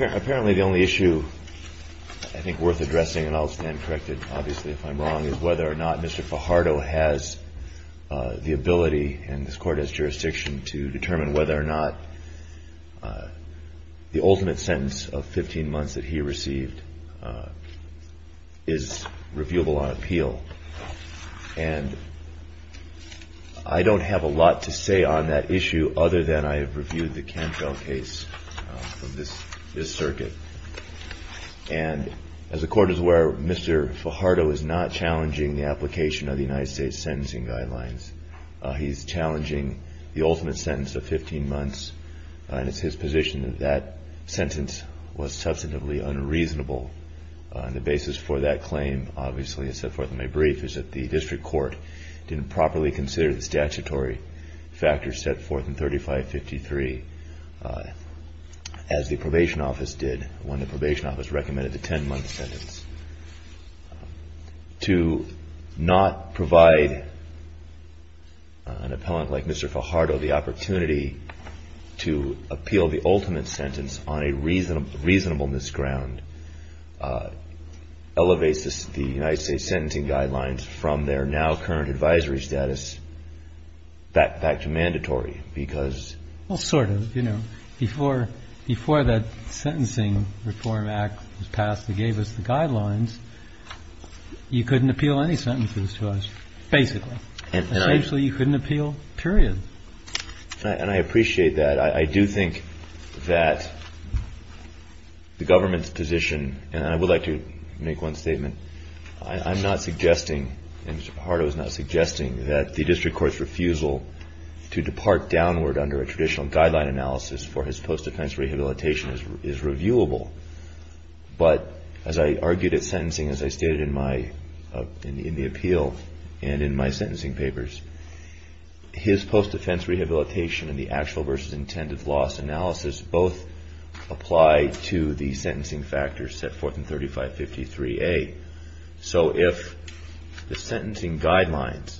Apparently the only issue I think worth addressing, and I'll stand corrected obviously if I'm wrong, is whether or not Mr. Fajardo has the ability, and this court has jurisdiction, to determine whether or not the ultimate sentence of 15 months that he received is reviewable on appeal. And I don't have a lot to say on that issue other than I have reviewed the Cantrell case from this circuit. And as the court is aware, Mr. Fajardo is not challenging the application of the United States Sentencing Guidelines. He's challenging the ultimate sentence of 15 months, and it's his position that that sentence was substantively unreasonable on the basis for that claim, obviously as set forth in my brief, is that the district court didn't properly consider the statutory factors set forth in 3553 as the probation office did when the probation office recommended the 10-month sentence. To not provide an appellant like Mr. Fajardo the opportunity to appeal the ultimate sentence on a reasonableness ground elevates the United States Sentencing Guidelines from their now current advisory status back to mandatory, because... Well, sort of. You know, before that Sentencing Reform Act was passed that gave us the guidelines, you couldn't appeal any sentences to us, basically. Essentially, you couldn't appeal, period. And I appreciate that. I do think that the government's position, and I would like to make one statement, I'm not suggesting, and Mr. Fajardo is not suggesting, that the district court's refusal to depart downward under a traditional guideline analysis for his post-offense rehabilitation is reviewable. But as I argued at sentencing, as I stated in the appeal and in my sentencing papers, his post-offense rehabilitation and the actual versus intended loss analysis both apply to the sentencing factors set forth in 3553A. So if the sentencing guidelines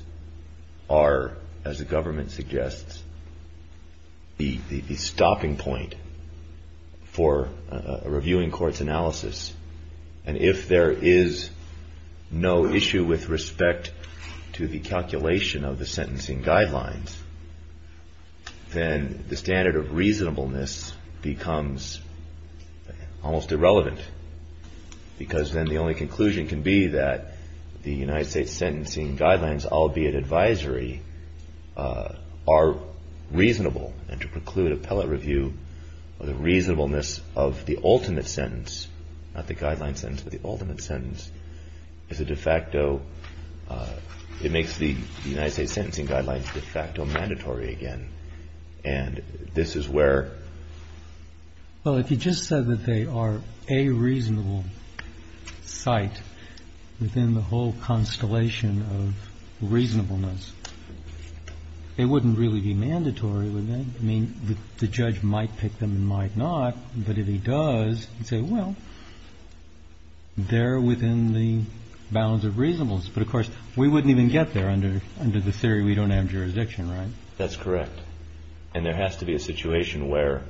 are, as the government suggests, the stopping point for a reviewing court's review the calculation of the sentencing guidelines, then the standard of reasonableness becomes almost irrelevant, because then the only conclusion can be that the United States Sentencing Guidelines, albeit advisory, are reasonable, and to preclude appellate review of the reasonableness of the ultimate sentence, not the guideline sentence, but the ultimate sentence, makes the United States Sentencing Guidelines de facto mandatory again. And this is where ---- Well, if you just said that they are a reasonable site within the whole constellation of reasonableness, it wouldn't really be mandatory, would it? I mean, the judge might pick them and might not, but if he does, you say, well, they're within the bounds of reasonableness. But, of course, we wouldn't even get there under the theory we don't have jurisdiction, right? That's correct. And there has to be a situation where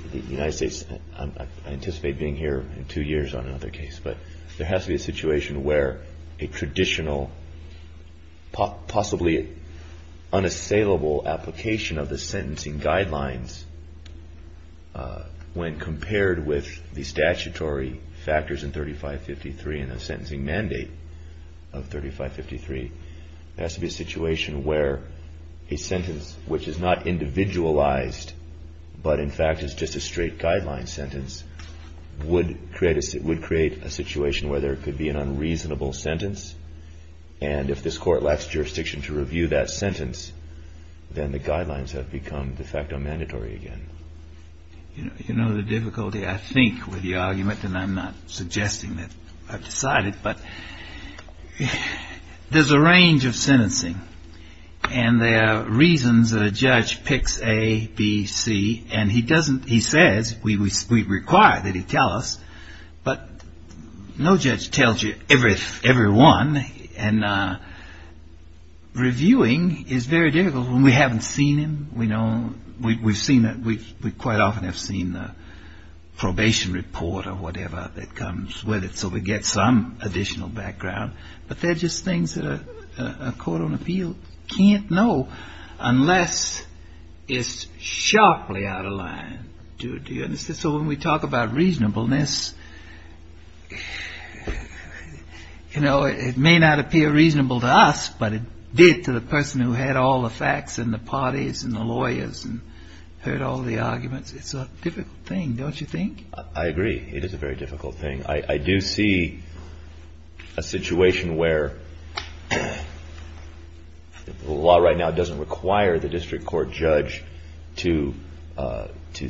the United States ---- I anticipate being here in two years on another case, but there has to be a situation where a traditional, possibly unassailable application of the sentencing guidelines, when compared with the statutory factors in 3553 and the sentencing mandate of 3553, has to be a situation where a sentence, which is not individualized, but, in fact, is just a straight guideline sentence, would create a situation where there could be an unreasonable sentence. And if this Court lacks jurisdiction to review that sentence, then the guidelines have become de facto mandatory again. You know the difficulty, I think, with the argument, and I'm not suggesting that I've decided, but there's a range of sentencing, and there are reasons that a judge picks A, B, C, and he doesn't ---- he says, we require that he tell us, but no judge tells you every one, and reviewing is very difficult. When we haven't seen him, we know ---- we've seen it, we quite often have seen the probation report or whatever that comes with it, so we get some additional background, but they're just things that a court on appeal can't know unless it's sharply out of line. So when we talk about reasonableness, you know, it may not appear reasonable to us, but it did to the person who had all the facts and the parties and the lawyers and heard all the arguments. It's a difficult thing, don't you think? I agree. It is a very difficult thing. I do see a situation where the law right now doesn't require the district court judge to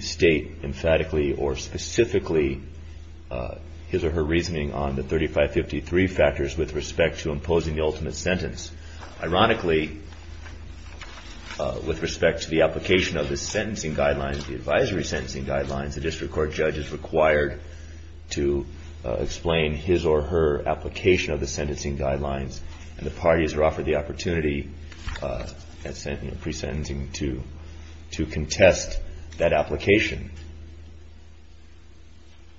state emphatically or specifically his or her reasoning on the 3553 factors with respect to imposing the ultimate sentence. Ironically, with respect to the application of the sentencing guidelines, the advisory sentencing guidelines, the district court judge is required to explain his or her application of the sentencing guidelines, and the parties are offered the opportunity at pre-sentencing to contest that application.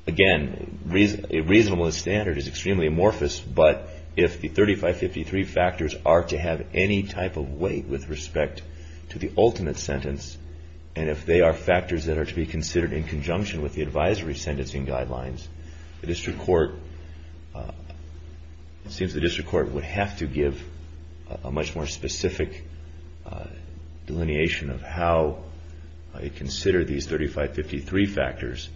Again, a reasonableness standard is extremely amorphous, but if the 3553 factors are to have any type of weight with respect to the ultimate sentence, and if they are factors that are to be considered in conjunction with the advisory sentencing guidelines, the district court, it seems the district court would have to give a much more specific delineation of how it considered these 3553 factors,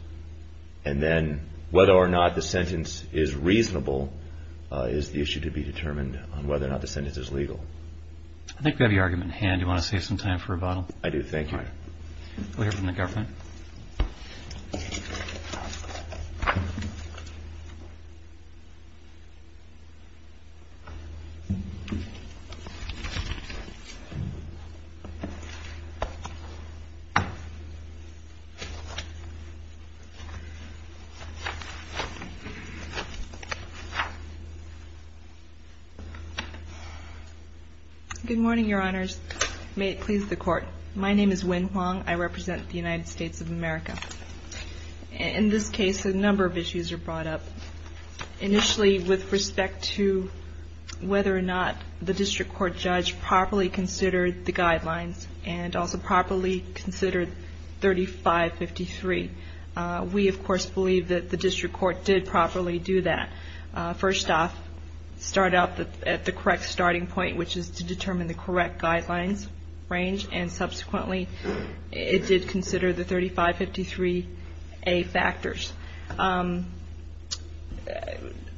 and then whether or not the sentence is reasonable is the issue to be determined on whether or not the sentence is legal. I think we have your argument in hand. Do you want to save some time for a bottle? I do. Thank you. All right. We'll hear from the governor. Good morning, Your Honors. May it please the Court. My name is Wen Huang. I represent the United States of America. In this case, a number of issues are brought up. Initially, with respect to whether or not the district court judge properly considered the guidelines, and also properly considered 3553. We, of course, believe that the district court did properly do that. First off, start out at the correct starting point, which is to determine the correct guidelines range, and subsequently, it did consider the 3553A factors.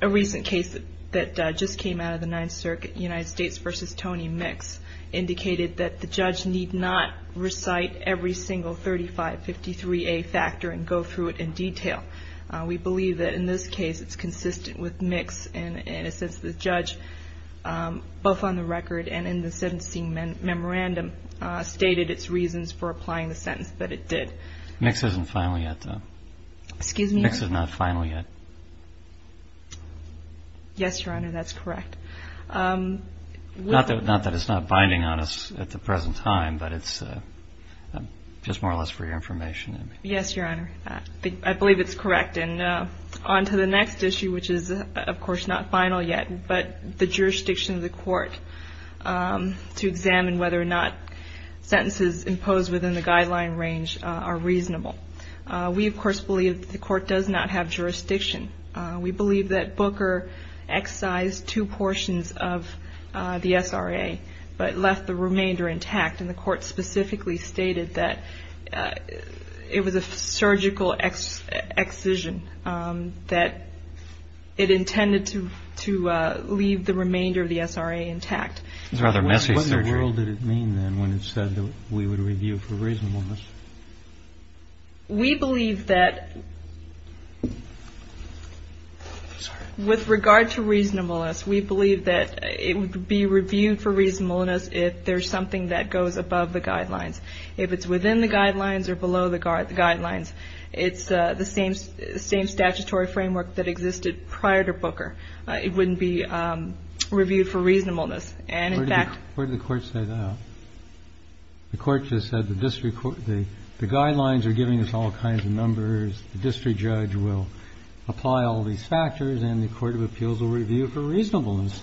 A recent case that just came out of the Ninth Circuit, United States v. Tony Mix, indicated that the judge need not recite every single 3553A factor and go through it in detail. We believe that, in this case, it's consistent with Mix, and in a sense, the judge, both on the record and in the sentencing memorandum, stated its reasons for applying the sentence, but it did. Mix isn't final yet, though. Excuse me? Mix is not final yet. Yes, Your Honor, that's correct. Not that it's not binding on us at the present time, but it's just more or less for your information. Yes, Your Honor, I believe it's correct. And on to the next issue, which is, of course, not final yet, but the jurisdiction of the court to examine whether or not sentences imposed within the guideline range are reasonable. We, of course, believe that the court does not have jurisdiction. We believe that Booker excised two portions of the SRA, but left the remainder intact, and the court specifically stated that it was a surgical excision, that it intended to leave the remainder of the SRA intact. It was a rather messy surgery. What in the world did it mean, then, when it said that we would review for reasonableness? We believe that with regard to reasonableness, we believe that it would be reviewed for reasonableness if there's something that goes above the guidelines. If it's within the guidelines or below the guidelines, it's the same statutory framework that existed prior to Booker. It wouldn't be reviewed for reasonableness. Where did the court say that? The court just said the guidelines are giving us all kinds of numbers, the district judge will apply all these factors, and the court of appeals will review for reasonableness.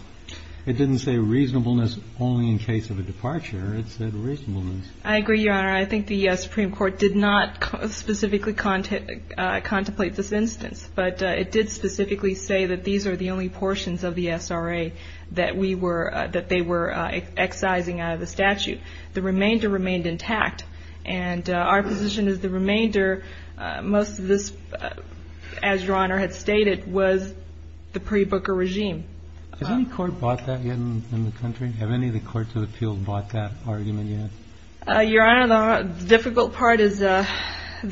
It didn't say reasonableness only in case of a departure. It said reasonableness. I agree, Your Honor. I think the Supreme Court did not specifically contemplate this instance, but it did specifically say that these are the only portions of the SRA that we were – that they were excising out of the statute. The remainder remained intact, and our position is the remainder, most of this, as Your Honor had stated, was the pre-Booker regime. Has any court bought that yet in the country? Have any of the courts of appeals bought that argument yet? Your Honor, the difficult part is – the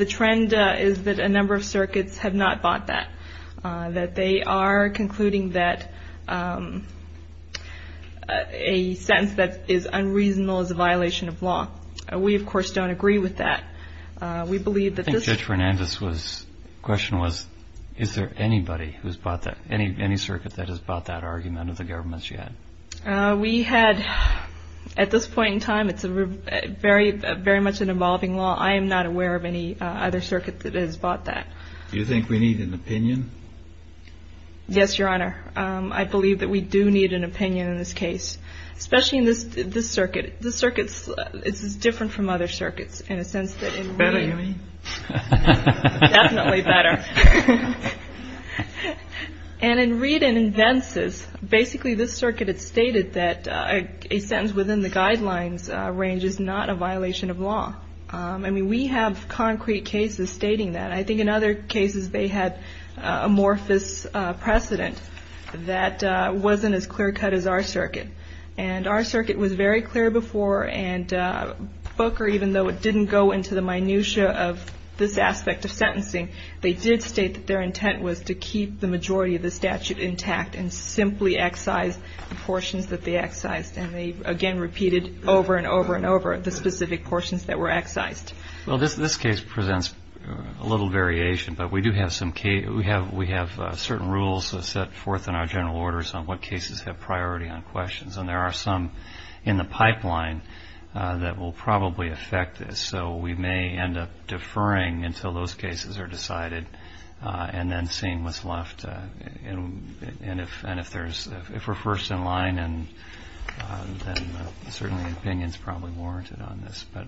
trend is that a number of circuits have not bought that, that they are concluding that a sentence that is unreasonable is a violation of law. We, of course, don't agree with that. We believe that this – Judge Fernandez's question was, is there anybody who's bought that – any circuit that has bought that argument of the government's yet? We had – at this point in time, it's a very – very much an evolving law. I am not aware of any other circuit that has bought that. Do you think we need an opinion? Yes, Your Honor. I believe that we do need an opinion in this case, especially in this – this circuit. This circuit is different from other circuits in a sense that in – What do you mean? Definitely better. And in Reed and in Vences, basically this circuit had stated that a sentence within the guidelines range is not a violation of law. I mean, we have concrete cases stating that. I think in other cases they had amorphous precedent that wasn't as clear-cut as our circuit. And our circuit was very clear before, and Booker, even though it didn't go into the minutia of this aspect of sentencing, they did state that their intent was to keep the majority of the statute intact and simply excise the portions that they excised. And they, again, repeated over and over and over the specific portions that were excised. Well, this case presents a little variation, but we do have some – we have certain rules set forth in our general orders on what cases have priority on questions. And there are some in the pipeline that will probably affect this. So we may end up deferring until those cases are decided and then seeing what's left. And if there's – if we're first in line, then certainly opinion's probably warranted on this. But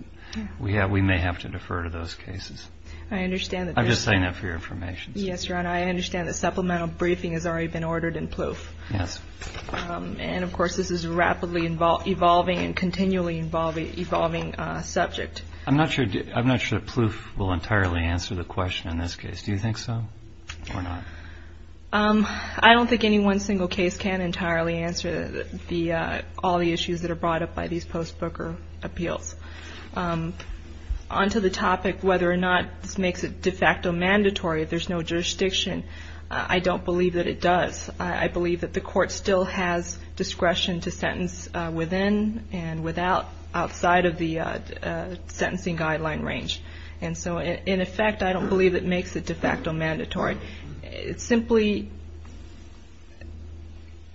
we may have to defer to those cases. I understand that there's – I'm just saying that for your information's sake. Yes, Ron. I understand the supplemental briefing has already been ordered in PLOF. Yes. And, of course, this is a rapidly evolving and continually evolving subject. I'm not sure – I'm not sure PLOF will entirely answer the question in this case. Do you think so or not? I don't think any one single case can entirely answer the – all the issues that are brought up by these post-Booker appeals. On to the topic whether or not this makes it de facto mandatory, if there's no jurisdiction, I don't believe that it does. I believe that the court still has discretion to sentence within and without – outside of the sentencing guideline range. And so, in effect, I don't believe it makes it de facto mandatory. It simply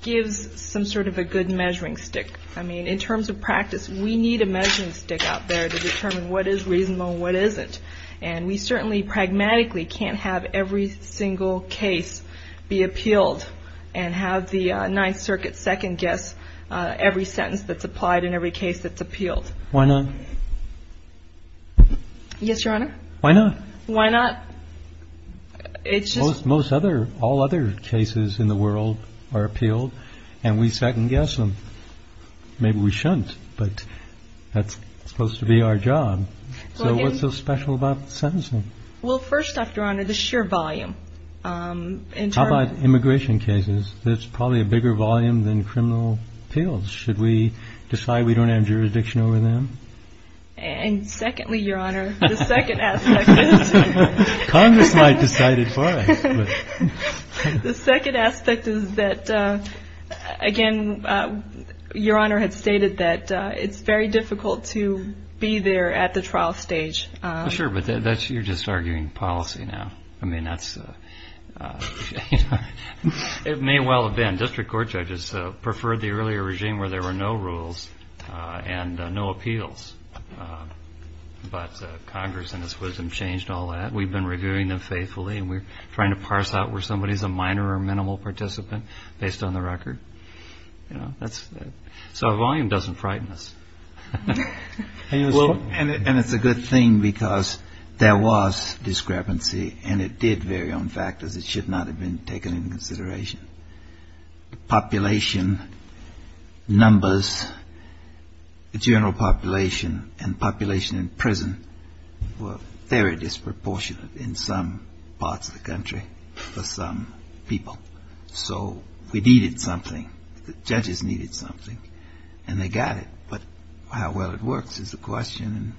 gives some sort of a good measuring stick. I mean, in terms of practice, we need a measuring stick out there to determine what is reasonable and what isn't. And we certainly pragmatically can't have every single case be appealed and have the Ninth Circuit second-guess every sentence that's applied in every case that's appealed. Why not? Yes, Your Honor. Why not? Why not? It's just – Most other – all other cases in the world are appealed and we second-guess them. Maybe we shouldn't, but that's supposed to be our job. So, what's so special about the sentencing? Well, first, Your Honor, the sheer volume. How about immigration cases? There's probably a bigger volume than criminal appeals. Should we decide we don't have jurisdiction over them? And secondly, Your Honor, the second aspect is – Congress might decide it for us. The second aspect is that, again, Your Honor had stated that it's very difficult to be there at the trial stage. Sure, but you're just arguing policy now. I mean, that's – it may well have been district court judges preferred the earlier regime where there were no rules and no appeals. But Congress and its wisdom changed all that. We've been reviewing them faithfully and we're trying to parse out where somebody is a minor or minimal participant based on the record. You know, that's – so a volume doesn't frighten us. Well, and it's a good thing because there was discrepancy and it did vary on factors that should not have been taken into consideration. The population numbers, the general population and population in prison were very disproportionate in some parts of the country for some people. So we needed something. The judges needed something. And they got it. But how well it works is the question. And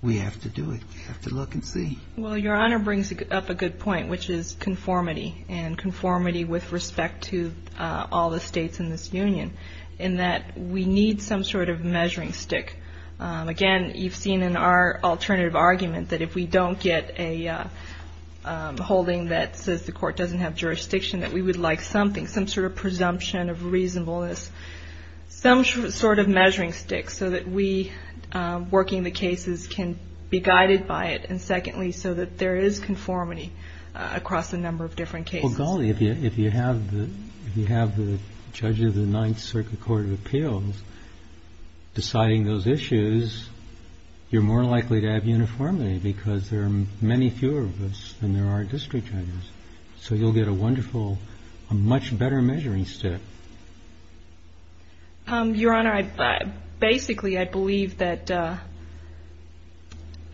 we have to do it. We have to look and see. Well, Your Honor brings up a good point, which is conformity and conformity with respect to all the states in this union, in that we need some sort of measuring stick. Again, you've seen in our alternative argument that if we don't get a holding that says the court doesn't have jurisdiction, that we would like something, some sort of presumption of reasonableness, some sort of measuring stick so that we, working the cases, can be guided by it. And secondly, so that there is conformity across a number of different cases. Well, golly, if you have the judge of the Ninth Circuit Court of Appeals deciding those issues, you're more likely to have uniformity because there are many fewer of us than there are district judges. So you'll get a wonderful, a much better measuring stick. Your Honor, basically, I believe that,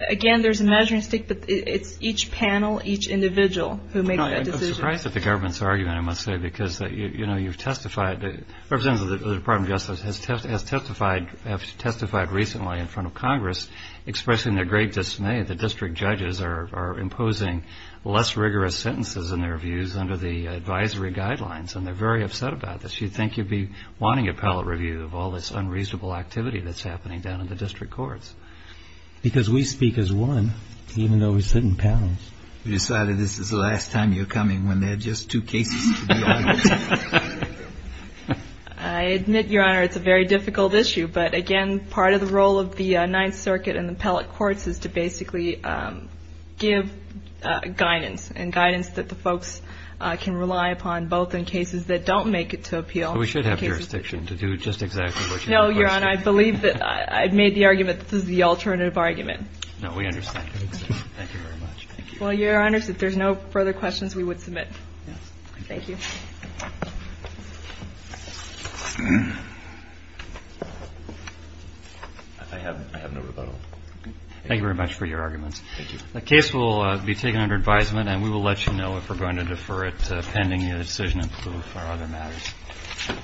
again, there's a measuring stick, but it's each panel, each individual who makes that decision. I'm surprised at the government's argument, I must say, because, you know, you've testified, representatives of the Department of Justice have testified recently in front of Congress, expressing their great dismay that district judges are imposing less rigorous sentences in their views under the advisory guidelines. And they're very upset about this. You'd think you'd be wanting appellate review of all this unreasonable activity that's happening down in the district courts. Because we speak as one, even though we sit in panels. We decided this is the last time you're coming when there are just two cases to be audited. I admit, Your Honor, it's a very difficult issue. But, again, part of the role of the Ninth Circuit and the appellate courts is to basically give guidance and guidance that the folks can rely upon, both in cases that don't make it to appeal. We should have jurisdiction to do just exactly what you requested. No, Your Honor, I believe that I've made the argument that this is the alternative argument. No, we understand. Thank you very much. Thank you. Well, Your Honors, if there's no further questions, we would submit. Thank you. I have no rebuttal. Thank you very much for your arguments. Thank you. The case will be taken under advisement, and we will let you know if we're going to defer it pending your decision to approve our other matters.